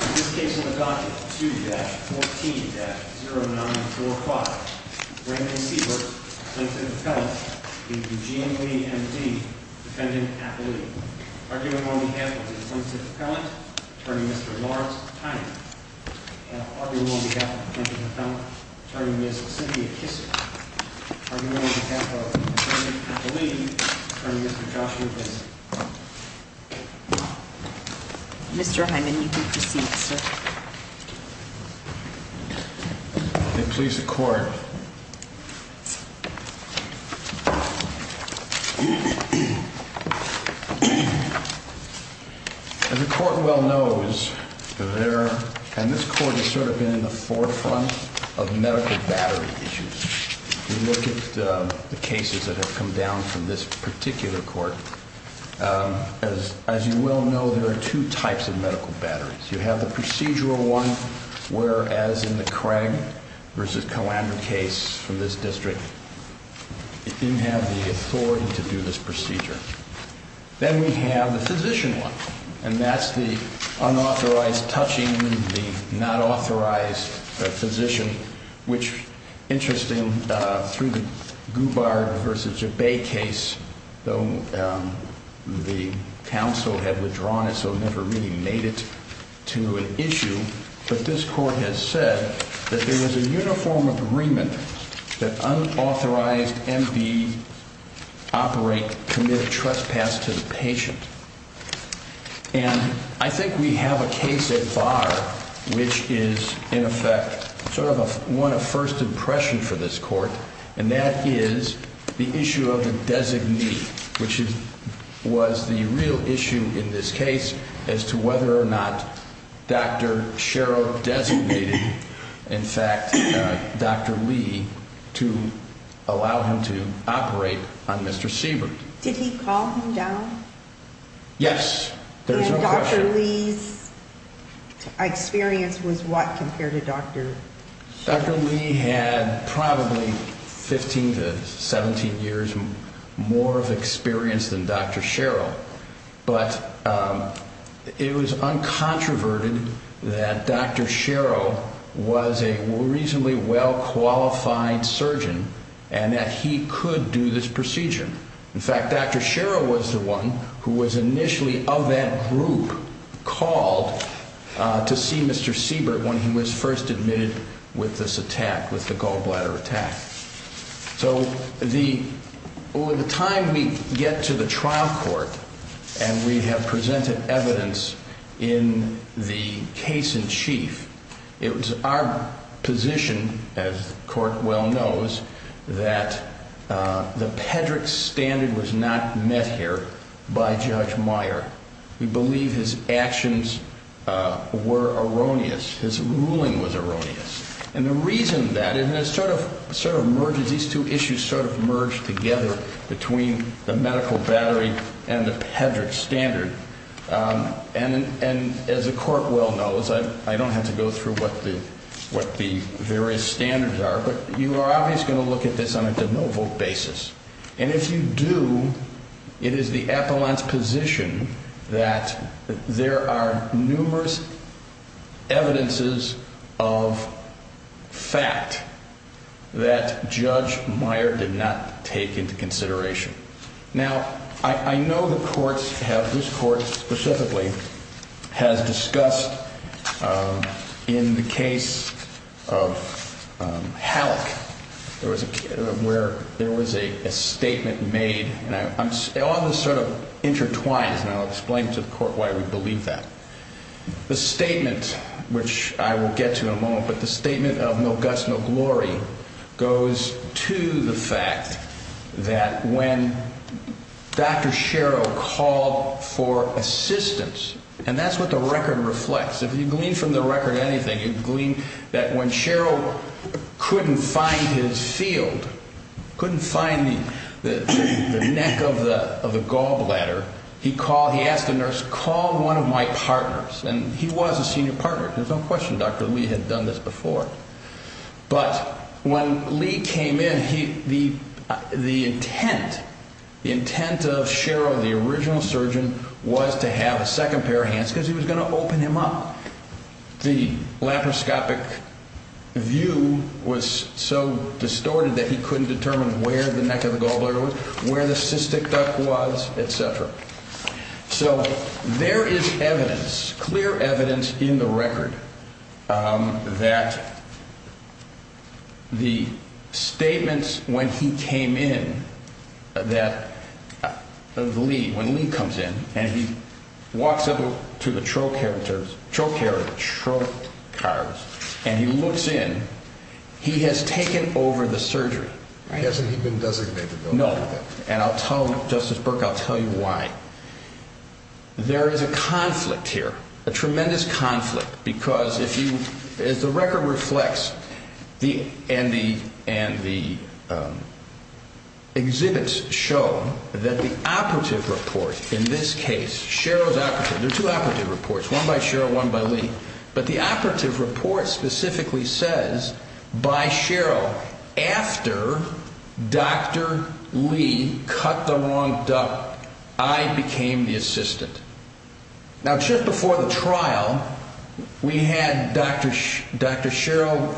In this case on the docket, 2-14-0945, Brandon Siebert, plaintiff's appellant, v. Eugene V. M. D., defendant at the lead. Arguing on behalf of the plaintiff's appellant, attorney Mr. Lawrence Hyman. Arguing on behalf of the plaintiff's appellant, attorney Ms. Cynthia Kisser. Arguing on behalf of the defendant at the lead, attorney Mr. Joshua Vincent. Mr. Hyman, you can proceed, sir. May it please the court. As the court well knows, there, and this court has sort of been in the forefront of medical battery issues. We look at the cases that have come down from this particular court. As you well know, there are two types of medical batteries. You have the procedural one, whereas in the Craig v. Calandra case from this district, it didn't have the authority to do this procedure. Then we have the physician one, and that's the unauthorized touching the not authorized physician, which, interesting, through the Goubard v. Jabay case, though the counsel had withdrawn it so it never really made it to an issue, but this court has said that there was a uniform agreement that unauthorized MD operate, commit trespass to the patient. And I think we have a case at bar which is, in effect, sort of one of first impression for this court, and that is the issue of the designee, which was the real issue in this case as to whether or not Dr. Sherrill designated, in fact, Dr. Lee to allow him to operate on Mr. Siebert. Did he calm him down? Yes, there's no question. And Dr. Lee's experience was what compared to Dr. Sherrill? Dr. Lee had probably 15 to 17 years more of experience than Dr. Sherrill, but it was uncontroverted that Dr. Sherrill was a reasonably well-qualified surgeon and that he could do this procedure. In fact, Dr. Sherrill was the one who was initially of that group called to see Mr. Siebert when he was first admitted with this attack, with the gallbladder attack. So over the time we get to the trial court and we have presented evidence in the case in chief, it was our position, as the court well knows, that the Pedrick standard was not met here by Judge Meyer. We believe his actions were erroneous, his ruling was erroneous. And the reason that, and it sort of merges, these two issues sort of merge together between the medical battery and the Pedrick standard. And as the court well knows, I don't have to go through what the various standards are, but you are obviously going to look at this on a de novo basis. And if you do, it is the appellant's position that there are numerous evidences of fact that Judge Meyer did not take into consideration. Now, I know the courts have, this court specifically, has discussed in the case of Halleck, where there was a statement made, and all this sort of intertwines, and I'll explain to the court why we believe that. The statement, which I will get to in a moment, but the statement of no guts, no glory, goes to the fact that when Dr. Sherrill called for assistance, and that's what the record reflects. If you glean from the record anything, you glean that when Sherrill couldn't find his field, couldn't find the neck of the gallbladder, he called, he asked the nurse, call one of my partners, and he was a senior partner, there's no question Dr. Lee had done this before. But when Lee came in, the intent of Sherrill, the original surgeon, was to have a second pair of hands because he was going to open him up. The laparoscopic view was so distorted that he couldn't determine where the neck of the gallbladder was, where the cystic duct was, et cetera. So there is evidence, clear evidence, in the record that the statements when he came in, that when Lee comes in and he walks up to the trocars, and he looks in, he has taken over the surgery. Hasn't he been designated though? No, and I'll tell you, Justice Burke, I'll tell you why. There is a conflict here, a tremendous conflict, because if you, as the record reflects, and the exhibits show that the operative report in this case, Sherrill's operative, there are two operative reports, one by Sherrill, one by Lee, but the operative report specifically says by Sherrill, after Dr. Lee cut the wrong duct, I became the assistant. Now, just before the trial, we had Dr. Sherrill,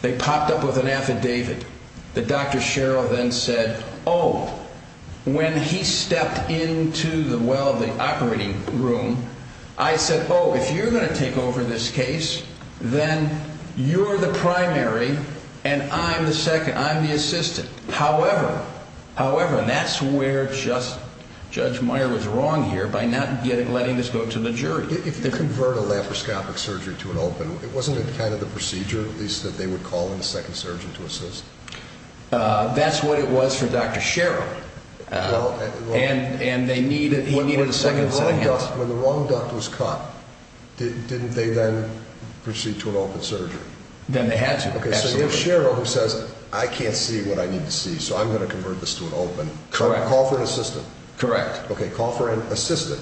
they popped up with an affidavit that Dr. Sherrill then said, oh, when he stepped into the well, the operating room, I said, oh, if you're going to take over this case, then you're the primary and I'm the second, I'm the assistant. However, however, and that's where Judge Meyer was wrong here by not letting this go to the jury. If you convert a laparoscopic surgery to an open, wasn't it kind of the procedure, at least that they would call in a second surgeon to assist? That's what it was for Dr. Sherrill, and he needed a second set of hands. When the wrong duct was cut, didn't they then proceed to an open surgery? Then they had to. Okay, so you have Sherrill who says, I can't see what I need to see, so I'm going to convert this to an open. Correct. Call for an assistant. Correct. Okay, call for an assistant.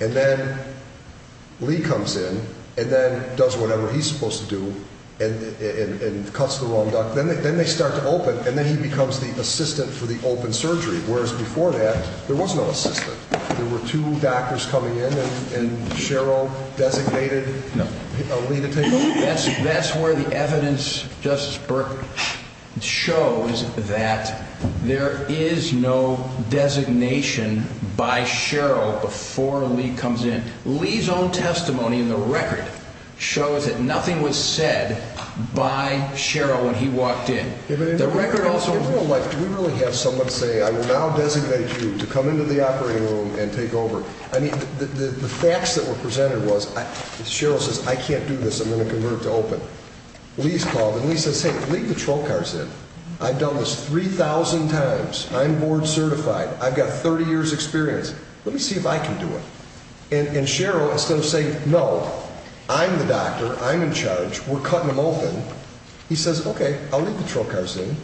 And then Lee comes in and then does whatever he's supposed to do and cuts the wrong duct. Then they start to open and then he becomes the assistant for the open surgery, whereas before that there was no assistant. There were two doctors coming in and Sherrill designated Lee to take over. That's where the evidence, Justice Burke, shows that there is no designation by Sherrill before Lee comes in. Lee's own testimony in the record shows that nothing was said by Sherrill when he walked in. Do we really have someone say, I will now designate you to come into the operating room and take over? The facts that were presented was, Sherrill says, I can't do this, I'm going to convert it to open. Lee's called and Lee says, hey, leave the troll cars in. I've done this 3,000 times. I'm board certified. I've got 30 years' experience. Let me see if I can do it. And Sherrill, instead of saying, no, I'm the doctor, I'm in charge, we're cutting him open, he says, okay, I'll leave the troll cars in.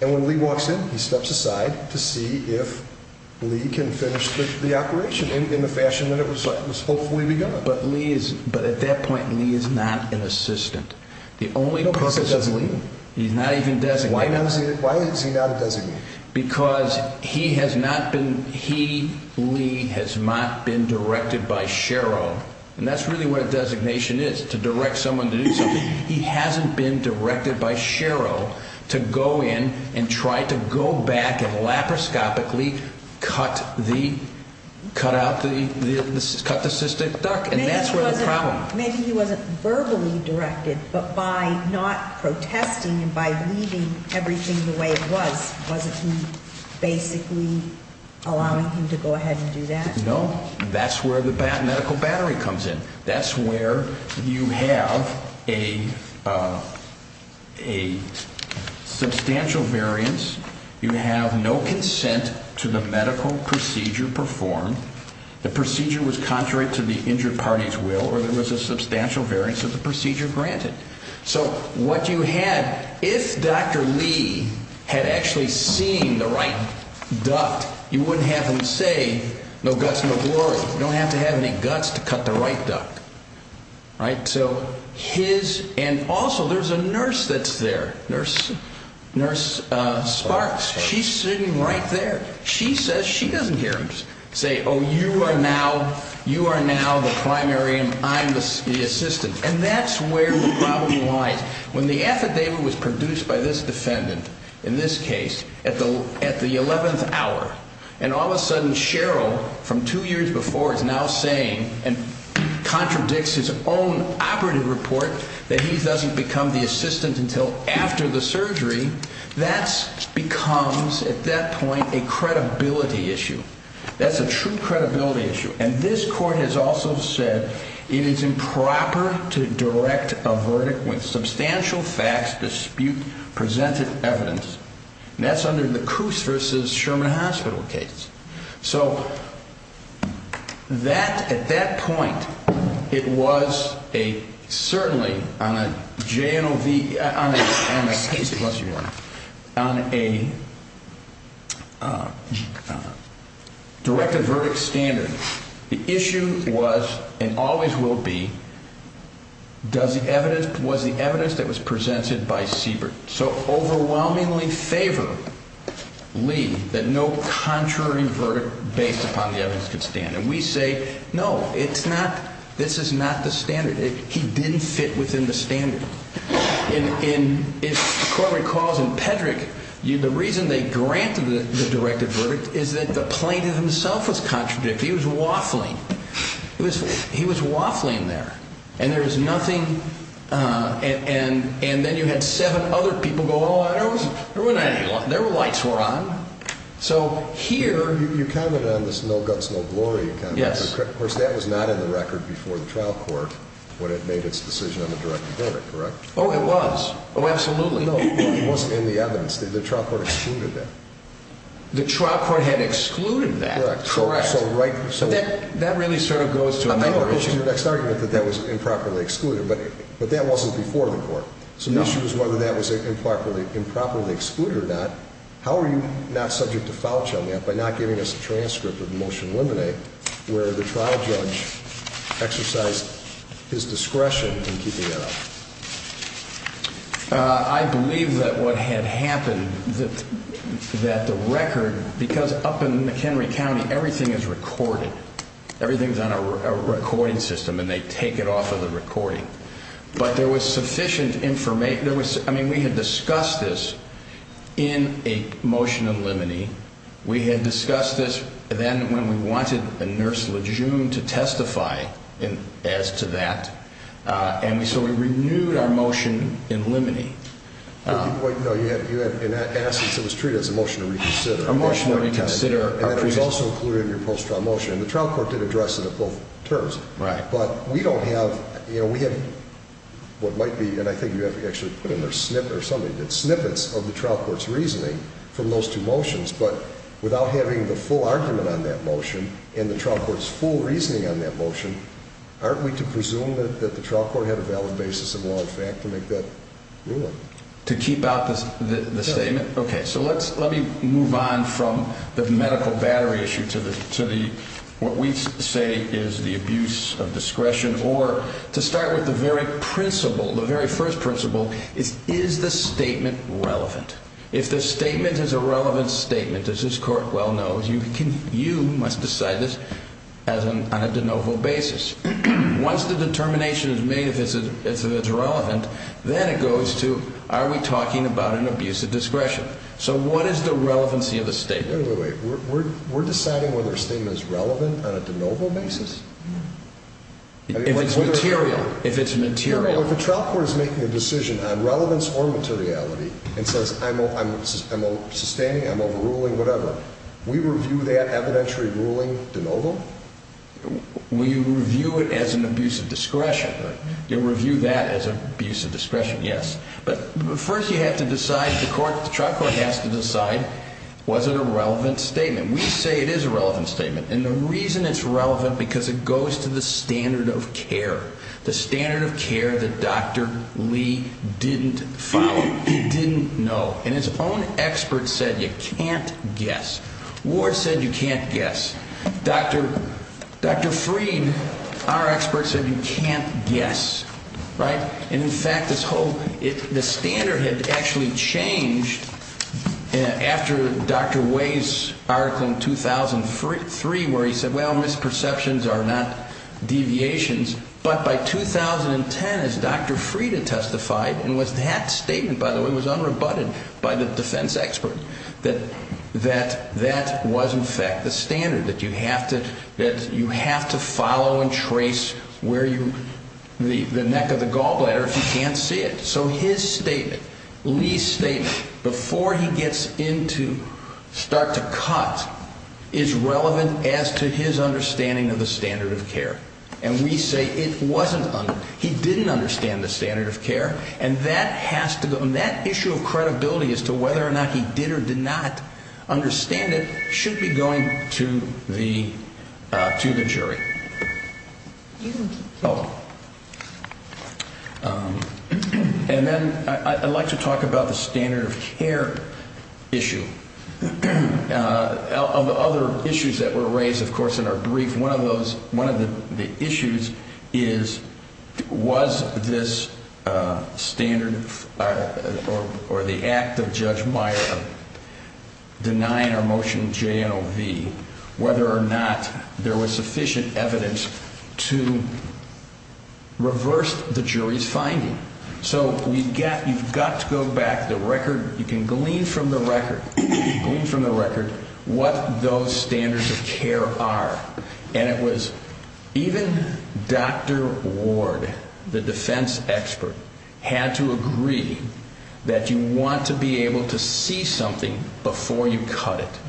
And when Lee walks in, he steps aside to see if Lee can finish the operation in the fashion that it was hopefully begun. But at that point, Lee is not an assistant. He's not even designated. Why is he not a designated? Because he has not been, he, Lee, has not been directed by Sherrill. And that's really what a designation is, to direct someone to do something. He hasn't been directed by Sherrill to go in and try to go back and laparoscopically cut the, cut out the, cut the cystic duct. And that's where the problem. Maybe he wasn't verbally directed, but by not protesting and by leaving everything the way it was, wasn't he basically allowing him to go ahead and do that? No. That's where the medical battery comes in. That's where you have a substantial variance. You have no consent to the medical procedure performed. The procedure was contrary to the injured party's will or there was a substantial variance of the procedure granted. So what you had, if Dr. Lee had actually seen the right duct, you wouldn't have him say, no guts, no glory. You don't have to have any guts to cut the right duct. Right? So his, and also there's a nurse that's there, nurse, nurse Sparks. She's sitting right there. She says she doesn't hear him say, oh, you are now, you are now the primary and I'm the assistant. And that's where the problem lies. When the affidavit was produced by this defendant, in this case, at the, at the 11th hour, and all of a sudden Sherrill from two years before is now saying and contradicts his own operative report that he doesn't become the assistant until after the surgery. That's becomes at that point, a credibility issue. That's a true credibility issue. And this court has also said it is improper to direct a verdict with substantial facts, dispute presented evidence. And that's under the cruise versus Sherman hospital case. So that, at that point, it was a, certainly on a JNOV, on a case, on a directed verdict standard. The issue was, and always will be, does the evidence, was the evidence that was presented by Siebert. So overwhelmingly favor Lee that no contrary verdict based upon the evidence could stand. And we say, no, it's not. This is not the standard. He didn't fit within the standard. And if the court recalls in Pedrick, the reason they granted the directed verdict is that the plaintiff himself was contradictory. He was waffling. He was waffling there. And there is nothing. And, and, and then you had seven other people go, oh, I don't know. There were lights were on. So here you comment on this. No guts. No glory. Yes. Of course, that was not in the record before the trial court when it made its decision on the direct verdict. Correct. Oh, it was. Oh, absolutely. It wasn't in the evidence. The trial court excluded that. The trial court had excluded that. Correct. So right. So that, that really sort of goes to the next argument that that was improperly excluded. But, but that wasn't before the court. So the issue is whether that was improperly improperly excluded or not. How are you not subject to foul child yet by not giving us a transcript of the motion eliminate where the trial judge exercised his discretion in keeping it up? I believe that what had happened that that the record, because up in McHenry County, everything is recorded. Everything's on a recording system and they take it off of the recording. But there was sufficient information. There was. I mean, we had discussed this in a motion of limine. We had discussed this then when we wanted a nurse Lejeune to testify in as to that. And we, so we renewed our motion in limine. No, you had, you had an essence. It was treated as a motion to reconsider a motion to consider. And that was also included in your post trial motion. And the trial court did address it at both terms. Right. But we don't have, you know, we have what might be. And I think you have to actually put in there a snippet or something that snippets of the trial court's reasoning from those two motions. But without having the full argument on that motion in the trial court's full reasoning on that motion. Aren't we to presume that the trial court had a valid basis of law and fact to make that ruling to keep out the statement? OK, so let's let me move on from the medical battery issue to the city. What we say is the abuse of discretion or to start with the very principle. The very first principle is, is the statement relevant? If the statement is a relevant statement, as this court well knows, you can, you must decide this as an on a de novo basis. Once the determination is made, if it's irrelevant, then it goes to, are we talking about an abuse of discretion? So what is the relevancy of the statement? We're deciding whether a statement is relevant on a de novo basis. If it's material, if it's material. If the trial court is making a decision on relevance or materiality and says, I'm sustaining, I'm overruling, whatever, we review that evidentiary ruling de novo? We review it as an abuse of discretion. You review that as an abuse of discretion, yes. But first you have to decide, the court, the trial court has to decide, was it a relevant statement? We say it is a relevant statement. And the reason it's relevant because it goes to the standard of care. The standard of care that Dr. Lee didn't follow, didn't know. And his own experts said you can't guess. Ward said you can't guess. Dr. Freed, our expert, said you can't guess. Right? But by 2010, as Dr. Freed had testified, and that statement, by the way, was unrebutted by the defense expert, that that was, in fact, the standard. That you have to follow and trace where you, the neck of the gallbladder if you can't see it. So his statement, Lee's statement, before he gets into, start to cut, is relevant as to his understanding of the standard of care. And we say it wasn't. He didn't understand the standard of care. And that has to go, and that issue of credibility as to whether or not he did or did not understand it should be going to the jury. And then I'd like to talk about the standard of care issue. Of the other issues that were raised, of course, in our brief, one of those, one of the issues is was this standard or the act of Judge Meyer of denying our motion JNOV, whether or not there was sufficient evidence to reverse the jury's finding. So we've got, you've got to go back the record, you can glean from the record, glean from the record what those standards of care are. And it was even Dr. Ward, the defense expert, had to agree that you want to be able to see something before you cut it.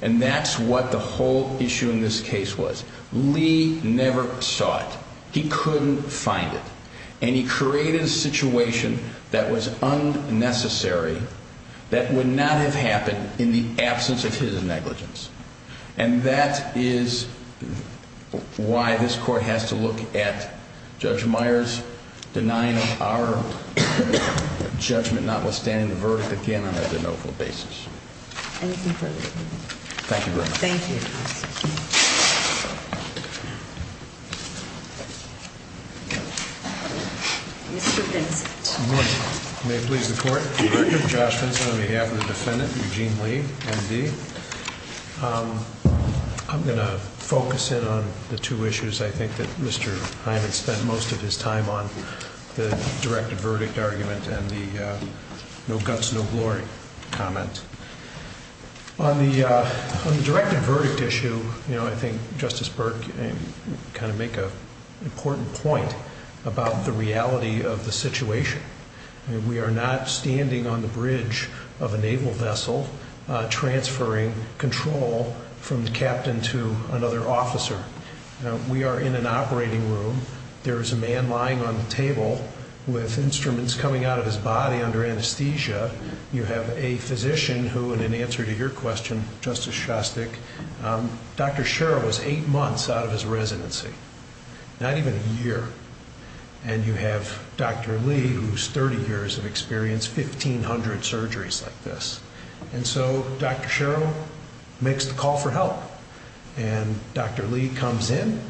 And that's what the whole issue in this case was. Lee never saw it. He couldn't find it. And he created a situation that was unnecessary, that would not have happened in the absence of his negligence. And that is why this Court has to look at Judge Meyer's denying of our judgment notwithstanding the verdict again on a JNOV basis. Anything further? Thank you very much. Thank you. Mr. Vincent. Good morning. May it please the Court. Josh Vincent on behalf of the defendant, Eugene Lee, MD. I'm going to focus in on the two issues I think that Mr. Hyman spent most of his time on, the directed verdict argument and the no guts, no glory comment. On the directed verdict issue, I think Justice Burke kind of make an important point about the reality of the situation. We are not standing on the bridge of a naval vessel transferring control from the captain to another officer. We are in an operating room. There is a man lying on the table with instruments coming out of his body under anesthesia. You have a physician who, in answer to your question, Justice Shostak, Dr. Sherrill was eight months out of his residency, not even a year. And you have Dr. Lee, who's 30 years of experience, 1,500 surgeries like this. And so Dr. Sherrill makes the call for help. And Dr. Lee comes in.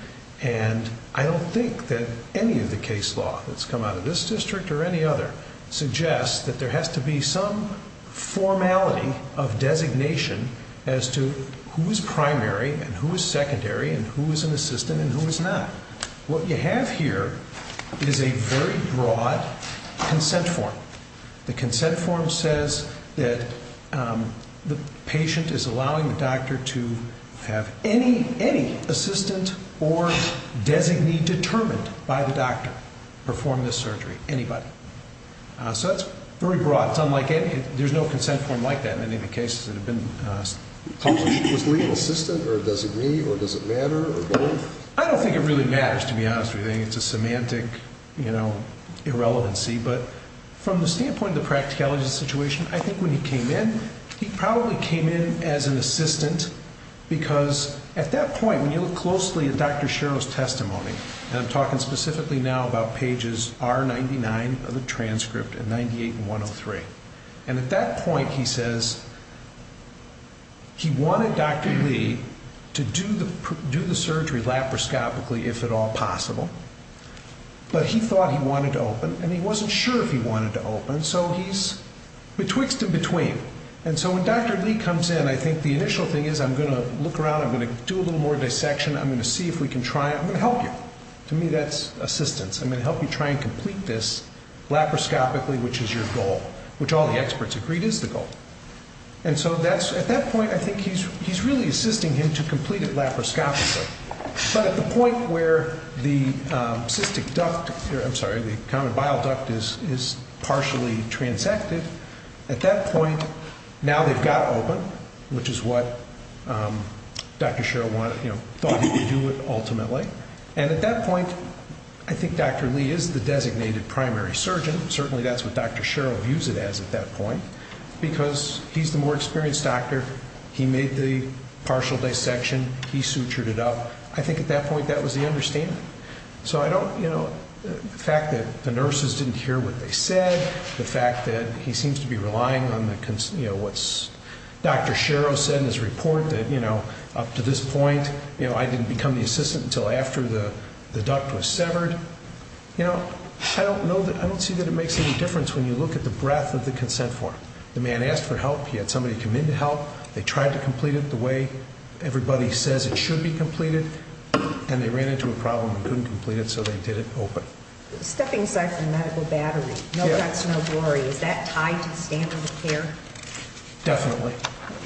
And I don't think that any of the case law that's come out of this district or any other suggests that there has to be some formality of designation as to who is primary and who is secondary and who is an assistant and who is not. What you have here is a very broad consent form. The consent form says that the patient is allowing the doctor to have any assistant or designee determined by the doctor perform this surgery, anybody. So that's very broad. There's no consent form like that in any of the cases that have been published. Was Lee an assistant or a designee or does it matter? I don't think it really matters, to be honest with you. It's a semantic irrelevancy. But from the standpoint of the practicality of the situation, I think when he came in, he probably came in as an assistant because at that point when you look closely at Dr. Sherrill's testimony, and I'm talking specifically now about pages R99 of the transcript and 98 and 103, and at that point he says he wanted Dr. Lee to do the surgery laparoscopically if at all possible. But he thought he wanted to open and he wasn't sure if he wanted to open, so he's betwixt and between. And so when Dr. Lee comes in, I think the initial thing is I'm going to look around, I'm going to do a little more dissection, I'm going to see if we can try it. I'm going to help you. To me, that's assistance. I'm going to help you try and complete this laparoscopically, which is your goal, which all the experts agreed is the goal. And so at that point, I think he's really assisting him to complete it laparoscopically. But at the point where the cystic duct, I'm sorry, the common bile duct is partially transected, at that point now they've got open, which is what Dr. Sherrill thought he would do ultimately. And at that point, I think Dr. Lee is the designated primary surgeon. Certainly that's what Dr. Sherrill views it as at that point because he's the more experienced doctor. He made the partial dissection. He sutured it up. I think at that point that was the understanding. So I don't, you know, the fact that the nurses didn't hear what they said, the fact that he seems to be relying on the, you know, what Dr. Sherrill said in his report that, you know, up to this point, you know, I didn't become the assistant until after the duct was severed. You know, I don't know that, I don't see that it makes any difference when you look at the breadth of the consent form. The man asked for help. He had somebody come in to help. They tried to complete it the way everybody says it should be completed, and they ran into a problem and couldn't complete it, so they did it open. Stepping aside from medical battery, no guts, no glory, is that tied to the standard of care? Definitely.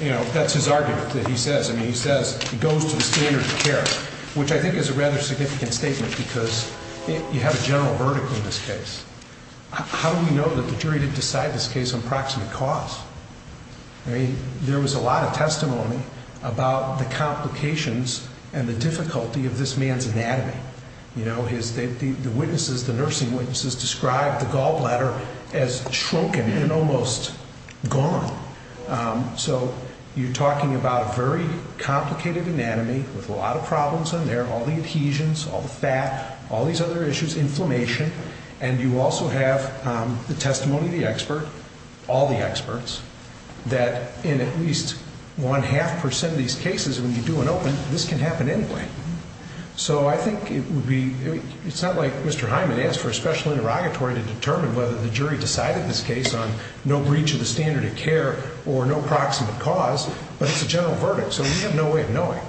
You know, that's his argument that he says. I mean, he says it goes to the standard of care, which I think is a rather significant statement because you have a general verdict in this case. How do we know that the jury did decide this case on proximate cause? I mean, there was a lot of testimony about the complications and the difficulty of this man's anatomy. You know, the witnesses, the nursing witnesses described the gallbladder as shrunken and almost gone. So you're talking about a very complicated anatomy with a lot of problems in there, all the adhesions, all the fat, all these other issues, inflammation. And you also have the testimony of the expert, all the experts, that in at least one-half percent of these cases when you do an open, this can happen anyway. So I think it would be, it's not like Mr. Hyman asked for a special interrogatory to determine whether the jury decided this case on no breach of the standard of care or no proximate cause, but it's a general verdict, so we have no way of knowing.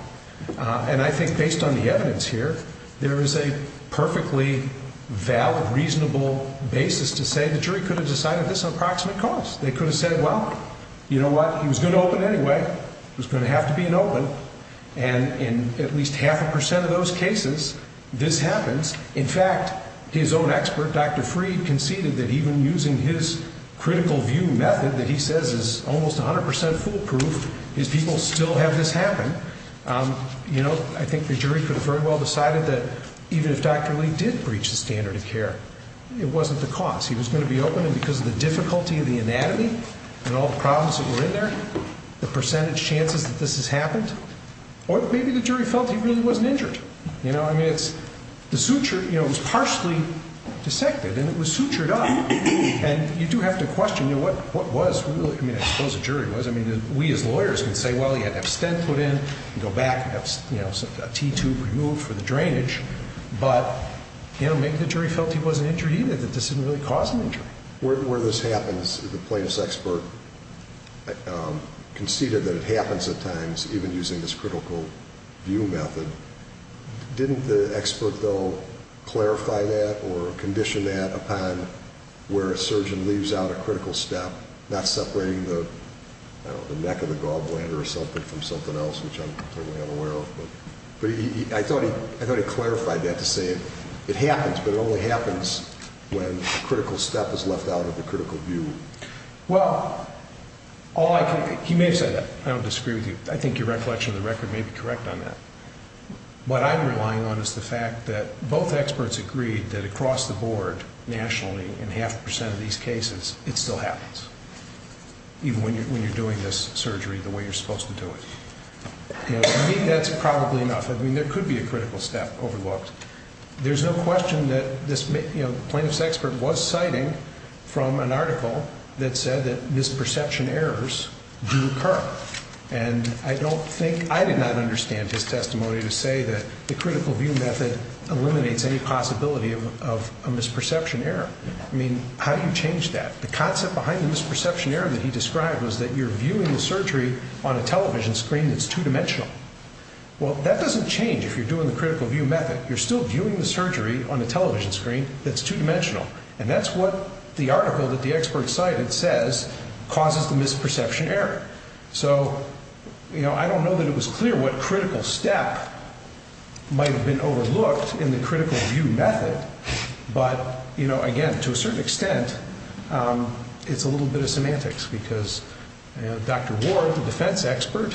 And I think based on the evidence here, there is a perfectly valid, reasonable basis to say the jury could have decided this on proximate cause. They could have said, well, you know what, he was going to open anyway. It was going to have to be an open. And in at least half a percent of those cases, this happens. In fact, his own expert, Dr. Freed, conceded that even using his critical view method that he says is almost 100 percent foolproof, his people still have this happen. You know, I think the jury could have very well decided that even if Dr. Lee did breach the standard of care, it wasn't the cause. He was going to be open, and because of the difficulty of the anatomy and all the problems that were in there, the percentage chances that this has happened, or maybe the jury felt he really wasn't injured. You know, I mean, it's the suture, you know, it was partially dissected, and it was sutured up. And you do have to question, you know, what was really, I mean, I suppose the jury was. I mean, we as lawyers can say, well, he had to have stent put in and go back and have, you know, a T-tube removed for the drainage. But, you know, maybe the jury felt he wasn't injured either, that this didn't really cause an injury. Where this happens, the plaintiff's expert conceded that it happens at times, even using this critical view method. Didn't the expert, though, clarify that or condition that upon where a surgeon leaves out a critical step, not separating the neck of the gallbladder or something from something else, which I'm aware of. But I thought he clarified that to say it happens, but it only happens when a critical step is left out of the critical view. Well, he may have said that. I don't disagree with you. I think your recollection of the record may be correct on that. What I'm relying on is the fact that both experts agreed that across the board, nationally, in half a percent of these cases, it still happens, even when you're doing this surgery the way you're supposed to do it. To me, that's probably enough. I mean, there could be a critical step overlooked. There's no question that this plaintiff's expert was citing from an article that said that misperception errors do occur. I did not understand his testimony to say that the critical view method eliminates any possibility of a misperception error. I mean, how do you change that? The concept behind the misperception error that he described was that you're viewing the surgery on a television screen that's two-dimensional. Well, that doesn't change if you're doing the critical view method. You're still viewing the surgery on a television screen that's two-dimensional, and that's what the article that the expert cited says causes the misperception error. So, you know, I don't know that it was clear what critical step might have been overlooked in the critical view method, but, you know, again, to a certain extent, it's a little bit of semantics, because, you know, Dr. Ward, the defense expert,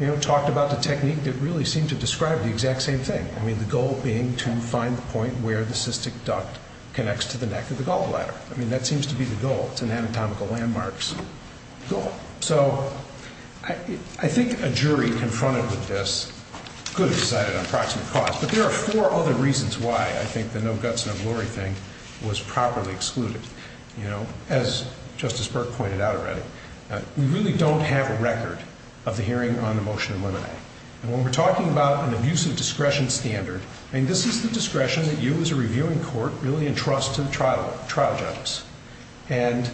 you know, talked about the technique that really seemed to describe the exact same thing. I mean, the goal being to find the point where the cystic duct connects to the neck of the gallbladder. I mean, that seems to be the goal. It's an anatomical landmark's goal. So I think a jury confronted with this could have decided on proximate cause, but there are four other reasons why I think the no guts, no glory thing was properly excluded. You know, as Justice Burke pointed out already, we really don't have a record of the hearing on the motion of limine. And when we're talking about an abusive discretion standard, I mean, this is the discretion that you as a reviewing court really entrust to the trial judges. And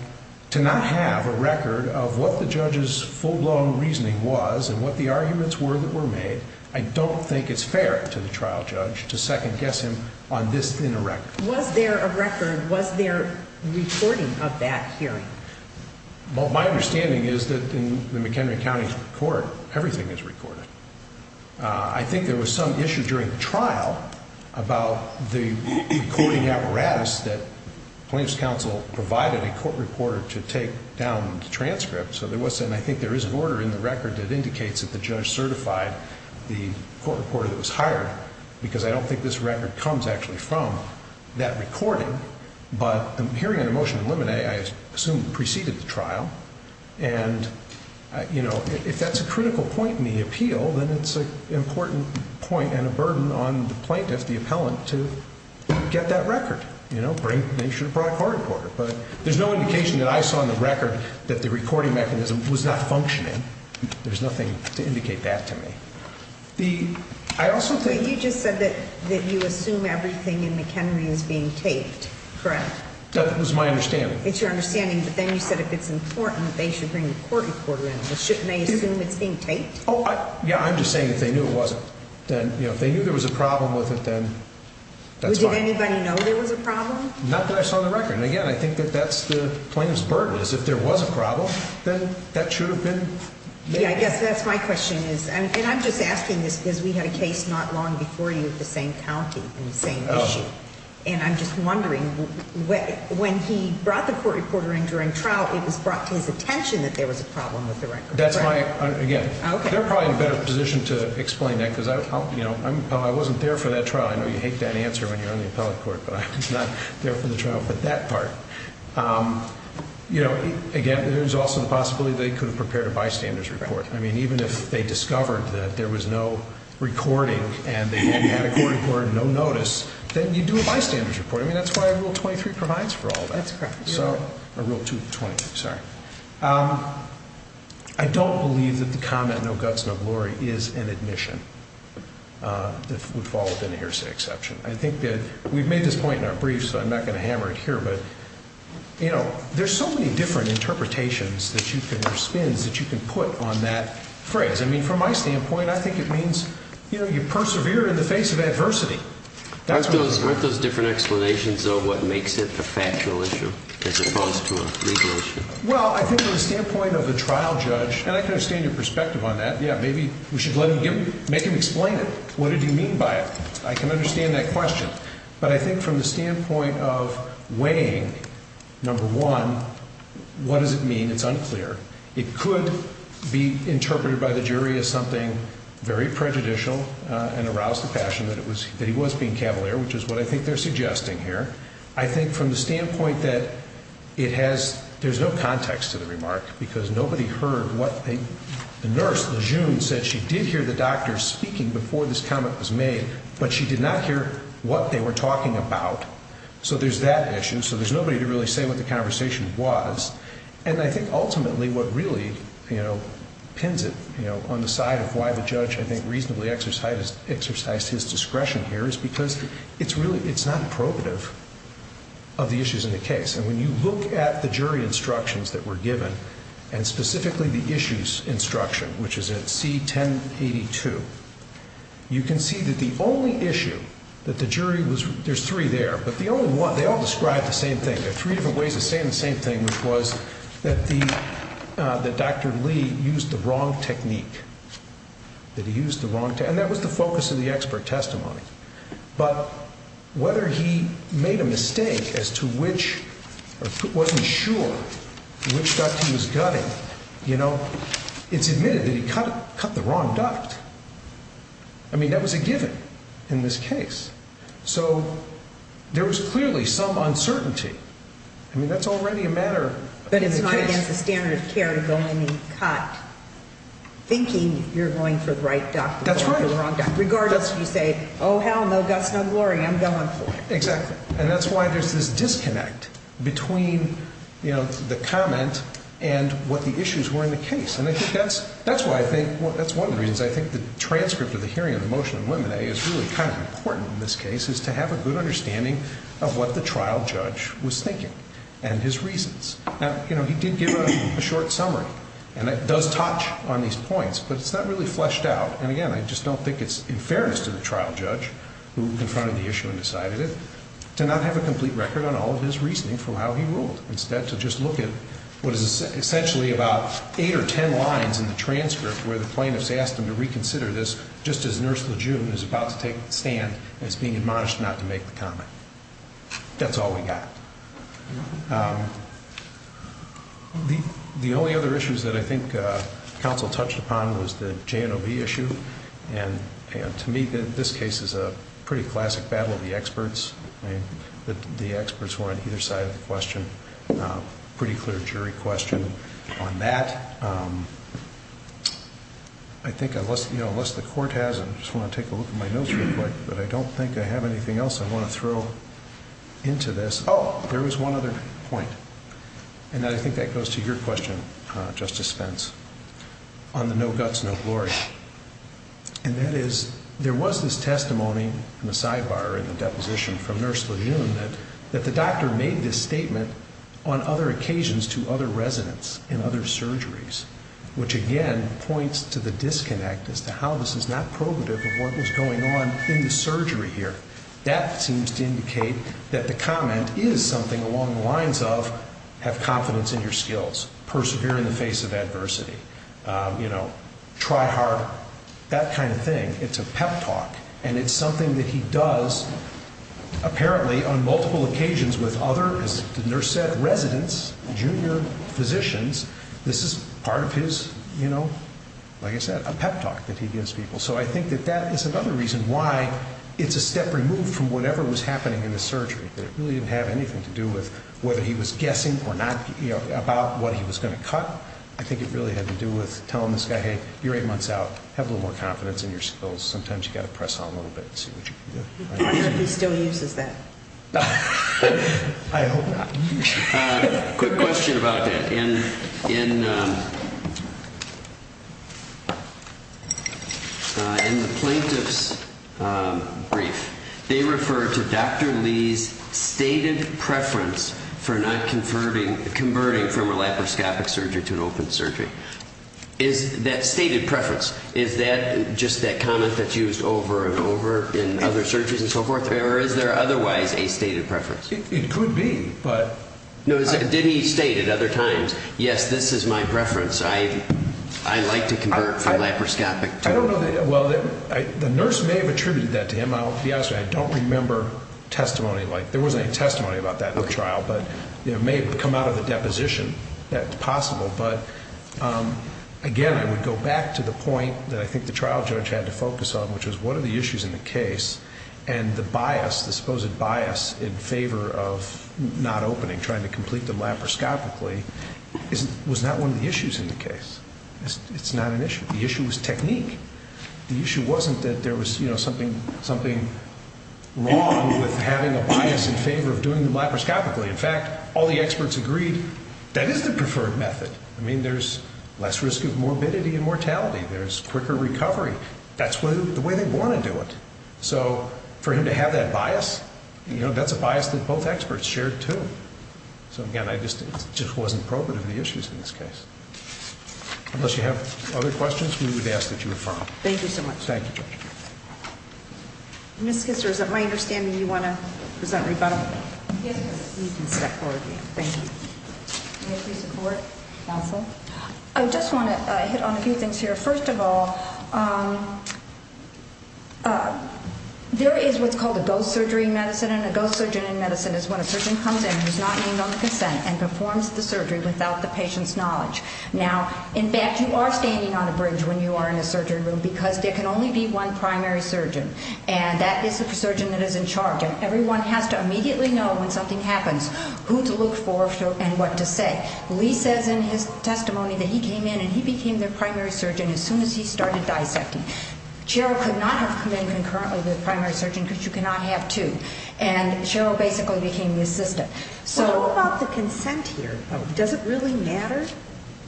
to not have a record of what the judge's full-blown reasoning was and what the arguments were that were made, I don't think it's fair to the trial judge to second-guess him on this thin of record. Was there a record? Was there recording of that hearing? Well, my understanding is that in the McHenry County Court, everything is recorded. I think there was some issue during the trial about the recording apparatus that plaintiff's counsel provided a court reporter to take down the transcript. So there was, and I think there is an order in the record that indicates that the judge certified the court reporter that was hired, because I don't think this record comes actually from that recording. But the hearing on the motion of limine, I assume, preceded the trial. And, you know, if that's a critical point in the appeal, then it's an important point and a burden on the plaintiff, the appellant, to get that record. You know, make sure to provide a court reporter. But there's no indication that I saw in the record that the recording mechanism was not functioning. There's nothing to indicate that to me. You just said that you assume everything in McHenry is being taped, correct? That was my understanding. It's your understanding, but then you said if it's important, they should bring the court reporter in. Shouldn't they assume it's being taped? Yeah, I'm just saying if they knew it wasn't, then, you know, if they knew there was a problem with it, then that's fine. Did anybody know there was a problem? Not that I saw in the record. And, again, I think that that's the plaintiff's burden is if there was a problem, then that should have been made. Yeah, I guess that's my question is, and I'm just asking this because we had a case not long before you of the same county and the same issue. And I'm just wondering, when he brought the court reporter in during trial, it was brought to his attention that there was a problem with the record, right? Again, they're probably in a better position to explain that because I wasn't there for that trial. I know you hate that answer when you're on the appellate court, but I was not there for the trial for that part. You know, again, there's also the possibility they could have prepared a bystander's report. I mean, even if they discovered that there was no recording and they had a court reporter, no notice, then you do a bystander's report. I mean, that's why Rule 23 provides for all that. That's correct. So, or Rule 22, sorry. I don't believe that the comment, no guts, no glory, is an admission that would fall within a hearsay exception. I think that we've made this point in our brief, so I'm not going to hammer it here. But, you know, there's so many different interpretations that you can, or spins that you can put on that phrase. I mean, from my standpoint, I think it means, you know, you persevere in the face of adversity. Aren't those different explanations of what makes it a factual issue as opposed to a legal issue? Well, I think from the standpoint of the trial judge, and I can understand your perspective on that. Yeah, maybe we should let him, make him explain it. What did he mean by it? I can understand that question. But I think from the standpoint of weighing, number one, what does it mean? It's unclear. It could be interpreted by the jury as something very prejudicial and arouse the passion that he was being cavalier, which is what I think they're suggesting here. I think from the standpoint that it has, there's no context to the remark because nobody heard what the nurse, Lejeune, said she did hear the doctor speaking before this comment was made, but she did not hear what they were talking about. So there's that issue. So there's nobody to really say what the conversation was. And I think ultimately what really, you know, pins it, you know, on the side of why the judge, I think, reasonably exercised his discretion here is because it's really, it's not probative of the issues in the case. And when you look at the jury instructions that were given, and specifically the issues instruction, which is in C1082, you can see that the only issue that the jury was, there's three there, but the only one, they all describe the same thing. There are three different ways of saying the same thing, which was that the, that Dr. Lee used the wrong technique, that he used the wrong, and that was the focus of the expert testimony. But whether he made a mistake as to which, or wasn't sure which duct he was gutting, you know, it's admitted that he cut the wrong duct. I mean, that was a given in this case. So there was clearly some uncertainty. I mean, that's already a matter of the case. But it's not against the standard of care to go in and cut, thinking you're going for the right duct. That's right. Regardless if you say, oh, hell, no guts, no glory, I'm going for it. Exactly. And that's why there's this disconnect between, you know, the comment and what the issues were in the case. And I think that's, that's why I think, that's one of the reasons I think the transcript of the hearing of the motion in Limine is really kind of important in this case, is to have a good understanding of what the trial judge was thinking and his reasons. Now, you know, he did give a short summary, and it does touch on these points, but it's not really fleshed out. And, again, I just don't think it's in fairness to the trial judge, who confronted the issue and decided it, to not have a complete record on all of his reasoning for how he ruled, instead to just look at what is essentially about eight or ten lines in the transcript where the plaintiffs asked him to reconsider this, just as Nurse Lejeune is about to take the stand as being admonished not to make the comment. That's all we got. The only other issues that I think counsel touched upon was the J&OB issue. And to me, this case is a pretty classic battle of the experts. I mean, the experts were on either side of the question, pretty clear jury question on that. I think unless, you know, unless the court has, I just want to take a look at my notes real quick, but I don't think I have anything else I want to throw into this. Oh, there was one other point, and I think that goes to your question, Justice Spence, on the no guts, no glory. And that is, there was this testimony in the sidebar in the deposition from Nurse Lejeune that the doctor made this statement on other occasions to other residents in other surgeries, which, again, points to the disconnect as to how this is not probative of what was going on in the surgery here. That seems to indicate that the comment is something along the lines of have confidence in your skills, persevere in the face of adversity, you know, try hard, that kind of thing. It's a pep talk, and it's something that he does apparently on multiple occasions with other, as the nurse said, residents, junior physicians, this is part of his, you know, like I said, a pep talk that he gives people. So I think that that is another reason why it's a step removed from whatever was happening in the surgery, that it really didn't have anything to do with whether he was guessing or not, you know, about what he was going to cut. I think it really had to do with telling this guy, hey, you're eight months out. Have a little more confidence in your skills. Sometimes you've got to press on a little bit and see what you can do. I hope he still uses that. I hope not. Quick question about that. In the plaintiff's brief, they referred to Dr. Lee's stated preference for not converting from a laparoscopic surgery to an open surgery. Is that stated preference, is that just that comment that's used over and over in other surgeries and so forth, or is there otherwise a stated preference? It could be. No, didn't he state at other times, yes, this is my preference. I like to convert from laparoscopic to open. I don't know. Well, the nurse may have attributed that to him. I'll be honest with you, I don't remember testimony like that. There wasn't any testimony about that in the trial, but it may have come out of the deposition. That's possible. But, again, I would go back to the point that I think the trial judge had to focus on, which was what are the issues in the case, and the bias, the supposed bias in favor of not opening, trying to complete them laparoscopically, was not one of the issues in the case. It's not an issue. The issue was technique. The issue wasn't that there was something wrong with having a bias in favor of doing them laparoscopically. In fact, all the experts agreed that is the preferred method. I mean, there's less risk of morbidity and mortality. There's quicker recovery. That's the way they want to do it. So for him to have that bias, you know, that's a bias that both experts shared, too. So, again, it just wasn't appropriate of the issues in this case. Unless you have other questions, we would ask that you refer them. Thank you so much. Thank you. Ms. Kisser, is it my understanding you want to present rebuttal? Yes, ma'am. You can step forward again. Thank you. May I please support counsel? I just want to hit on a few things here. First of all, there is what's called a ghost surgery in medicine, and a ghost surgeon in medicine is when a surgeon comes in who's not named on the consent and performs the surgery without the patient's knowledge. Now, in fact, you are standing on a bridge when you are in a surgeon room because there can only be one primary surgeon, and that is the surgeon that is in charge, and everyone has to immediately know when something happens who to look for and what to say. Lee says in his testimony that he came in and he became their primary surgeon as soon as he started dissecting. Cheryl could not have come in concurrently with the primary surgeon because you cannot have two, and Cheryl basically became the assistant. What about the consent here? Does it really matter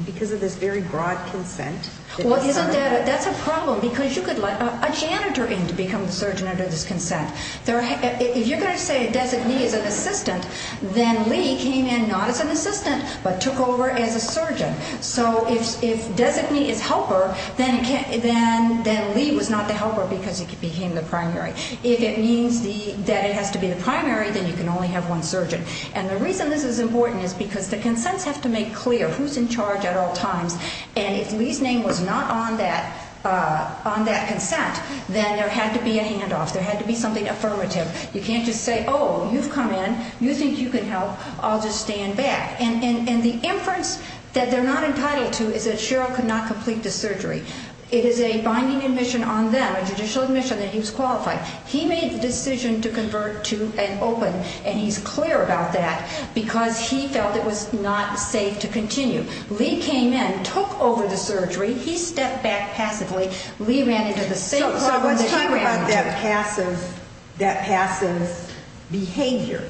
because of this very broad consent? That's a problem because you could let a janitor in to become the surgeon under this consent. If you're going to say a designee is an assistant, then Lee came in not as an assistant but took over as a surgeon. So if designee is helper, then Lee was not the helper because he became the primary. If it means that it has to be the primary, then you can only have one surgeon. And the reason this is important is because the consents have to make clear who's in charge at all times, and if Lee's name was not on that consent, then there had to be a handoff. There had to be something affirmative. You can't just say, oh, you've come in, you think you can help, I'll just stand back. And the inference that they're not entitled to is that Cheryl could not complete the surgery. It is a binding admission on them, a judicial admission that he was qualified. He made the decision to convert to an open, and he's clear about that because he felt it was not safe to continue. Lee came in, took over the surgery. He stepped back passively. Lee ran into the same problem that he ran into. So let's talk about that passive behavior.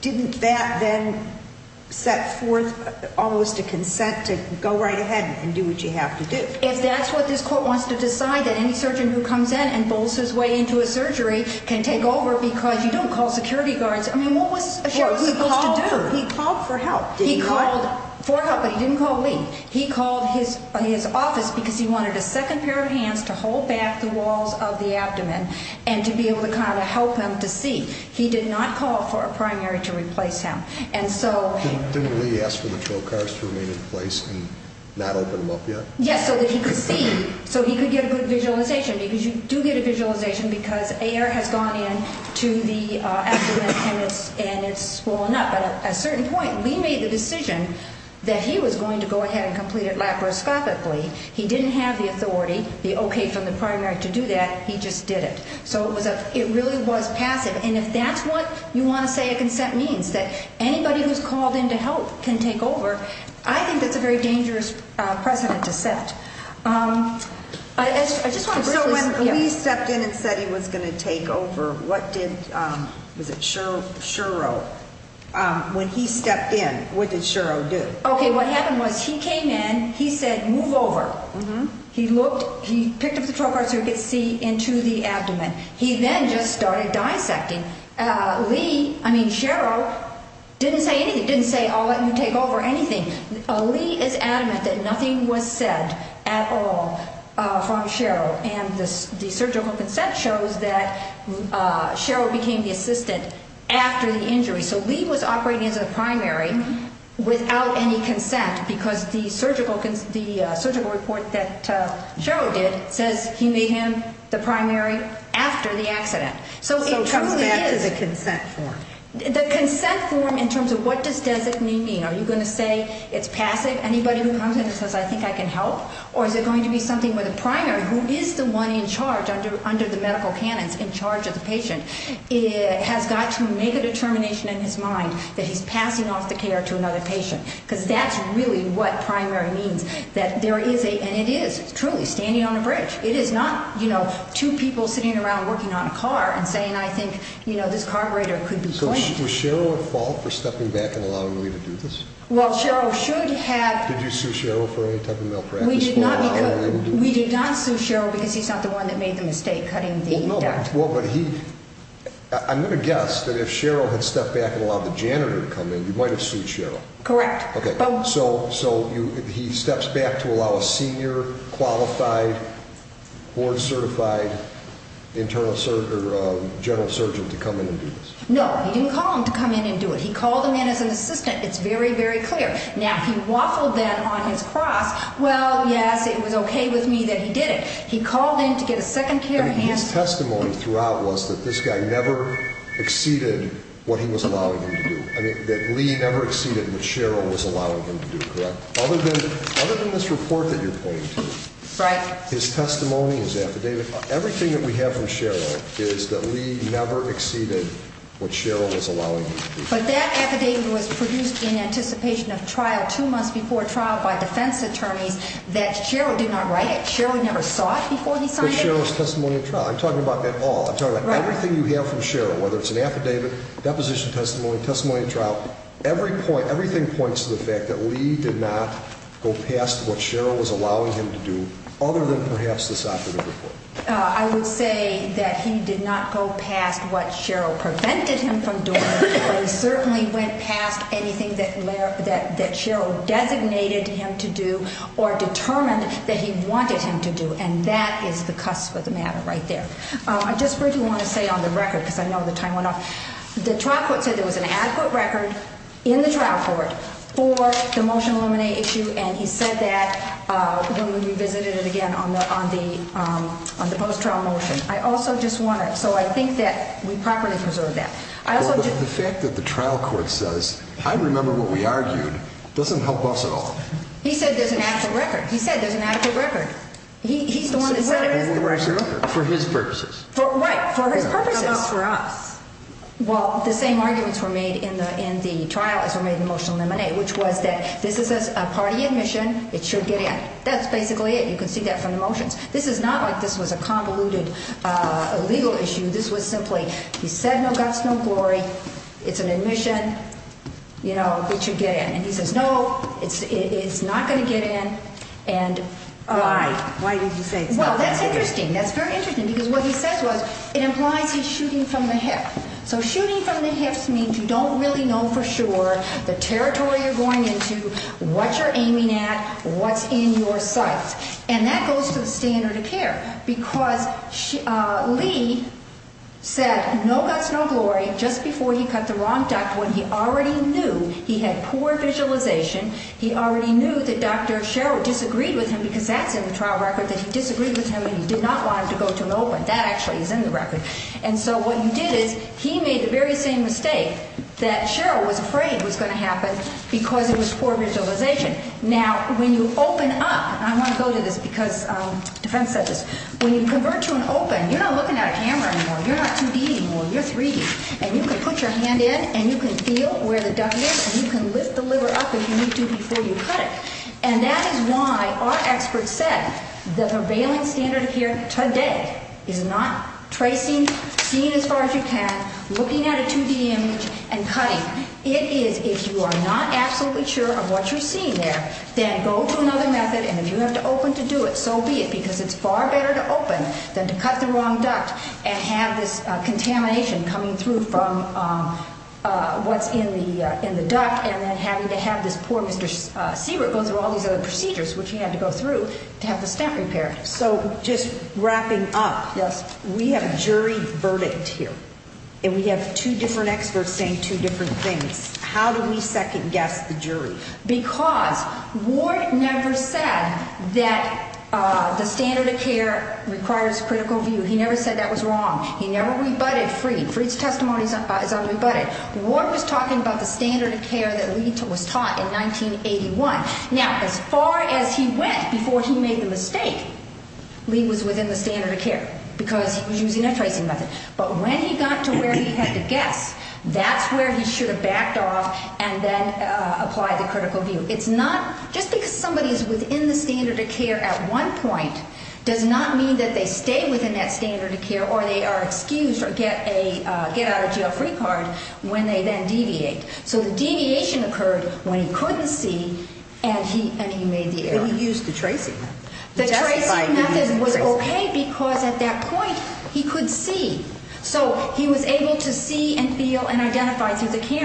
Didn't that then set forth almost a consent to go right ahead and do what you have to do? If that's what this court wants to decide, that any surgeon who comes in and bowls his way into a surgery can take over because you don't call security guards. I mean, what was a surgeon supposed to do? He called for help, did he not? He called for help, but he didn't call Lee. He called his office because he wanted a second pair of hands to hold back the walls of the abdomen and to be able to kind of help him to see. He did not call for a primary to replace him. Didn't Lee ask for the trocars to remain in place and not open him up yet? Yes, so that he could see, so he could get a good visualization, because you do get a visualization because air has gone into the abdomen and it's swollen up. But at a certain point, Lee made the decision that he was going to go ahead and complete it laparoscopically. He didn't have the authority, the okay from the primary to do that. He just did it. So it really was passive. And if that's what you want to say a consent means, that anybody who's called in to help can take over, I think that's a very dangerous precedent to set. So when Lee stepped in and said he was going to take over, what did, was it Shero? When he stepped in, what did Shero do? Okay, what happened was he came in, he said, move over. He looked, he picked up the trocar so he could see into the abdomen. He then just started dissecting. Lee, I mean Shero, didn't say anything, didn't say, I'll let you take over, anything. Lee is adamant that nothing was said at all from Shero. And the surgical consent shows that Shero became the assistant after the injury. So Lee was operating as a primary without any consent because the surgical report that Shero did says he made him the primary after the accident. So it truly is. So it comes back to the consent form. The consent form in terms of what does designee mean? Are you going to say it's passive? Anybody who comes in and says, I think I can help? Or is it going to be something where the primary, who is the one in charge under the medical canons in charge of the patient, has got to make a determination in his mind that he's passing off the care to another patient? Because that's really what primary means, that there is a, and it is truly, standing on a bridge. It is not, you know, two people sitting around working on a car and saying, I think, you know, this carburetor could be cleaned. Was Shero at fault for stepping back and allowing Lee to do this? Well, Shero should have. Did you sue Shero for any type of malpractice? We did not sue Shero because he's not the one that made the mistake cutting the duct. Well, but he, I'm going to guess that if Shero had stepped back and allowed the janitor to come in, you might have sued Shero. Correct. So he steps back to allow a senior, qualified, board-certified internal surgeon, general surgeon to come in and do this? No, he didn't call him to come in and do it. He called him in as an assistant. It's very, very clear. Now, if he waffled then on his cross, well, yes, it was okay with me that he did it. He called in to get a second care hand. His testimony throughout was that this guy never exceeded what he was allowing him to do, that Lee never exceeded what Shero was allowing him to do, correct? Other than this report that you're pointing to, his testimony, his affidavit, everything that we have from Shero is that Lee never exceeded what Shero was allowing him to do. But that affidavit was produced in anticipation of trial two months before trial by defense attorneys that Shero did not write it. Shero never saw it before he signed it? But Shero's testimony at trial. I'm talking about it all. I'm talking about everything you have from Shero, whether it's an affidavit, deposition testimony, testimony at trial, everything points to the fact that Lee did not go past what Shero was allowing him to do other than perhaps this affidavit report. I would say that he did not go past what Shero prevented him from doing, but he certainly went past anything that Shero designated him to do or determined that he wanted him to do, and that is the cusp of the matter right there. I just really want to say on the record, because I know the time went off, the trial court said there was an adequate record in the trial court for the motion to eliminate issue, and he said that when we revisited it again on the post-trial motion. I also just want to, so I think that we properly preserved that. Well, the fact that the trial court says, I remember what we argued, doesn't help us at all. He said there's an adequate record. He said there's an adequate record. He's the one that said it is an adequate record. For his purposes. Right, for his purposes. For us. Well, the same arguments were made in the trial as were made in the motion to eliminate, which was that this is a party admission. It should get in. That's basically it. You can see that from the motions. This is not like this was a convoluted legal issue. This was simply he said no guts, no glory. It's an admission. You know, it should get in, and he says, no, it's not going to get in, and why? Why did he say it's not going to get in? Well, that's interesting. That's very interesting because what he says was it implies he's shooting from the hip. So shooting from the hips means you don't really know for sure the territory you're going into, what you're aiming at, what's in your sights, and that goes to the standard of care because Lee said no guts, no glory just before he cut the wrong duct when he already knew he had poor visualization. He already knew that Dr. Sherwood disagreed with him because that's in the trial record, that he disagreed with him and he did not want him to go to an open. That actually is in the record, and so what he did is he made the very same mistake that Sherwood was afraid was going to happen because it was poor visualization. Now, when you open up, and I want to go to this because defense said this, when you convert to an open, you're not looking at a camera anymore. You're not 2D anymore. You're 3D, and you can put your hand in, and you can feel where the duct is, and you can lift the liver up if you need to before you cut it, and that is why our experts said the prevailing standard of care today is not tracing, seeing as far as you can, looking at a 2D image, and cutting. It is if you are not absolutely sure of what you're seeing there, then go to another method, and if you have to open to do it, so be it because it's far better to open than to cut the wrong duct and have this contamination coming through from what's in the duct and then having to have this poor Mr. Sherwood go through all these other procedures, which he had to go through to have the stent repaired. So just wrapping up, we have a jury verdict here, and we have two different experts saying two different things. How do we second-guess the jury? Because Ward never said that the standard of care requires critical view. He never said that was wrong. He never rebutted Freed. Freed's testimony is unrebutted. Ward was talking about the standard of care that Lee was taught in 1981. Now, as far as he went before he made the mistake, Lee was within the standard of care because he was using a tracing method. But when he got to where he had to guess, that's where he should have backed off and then applied the critical view. It's not just because somebody is within the standard of care at one point does not mean that they stay within that standard of care or they are excused or get out of jail free card when they then deviate. So the deviation occurred when he couldn't see and he made the error. But he used the tracing method. The tracing method was okay because at that point he could see. So he was able to see and feel and identify through the camera.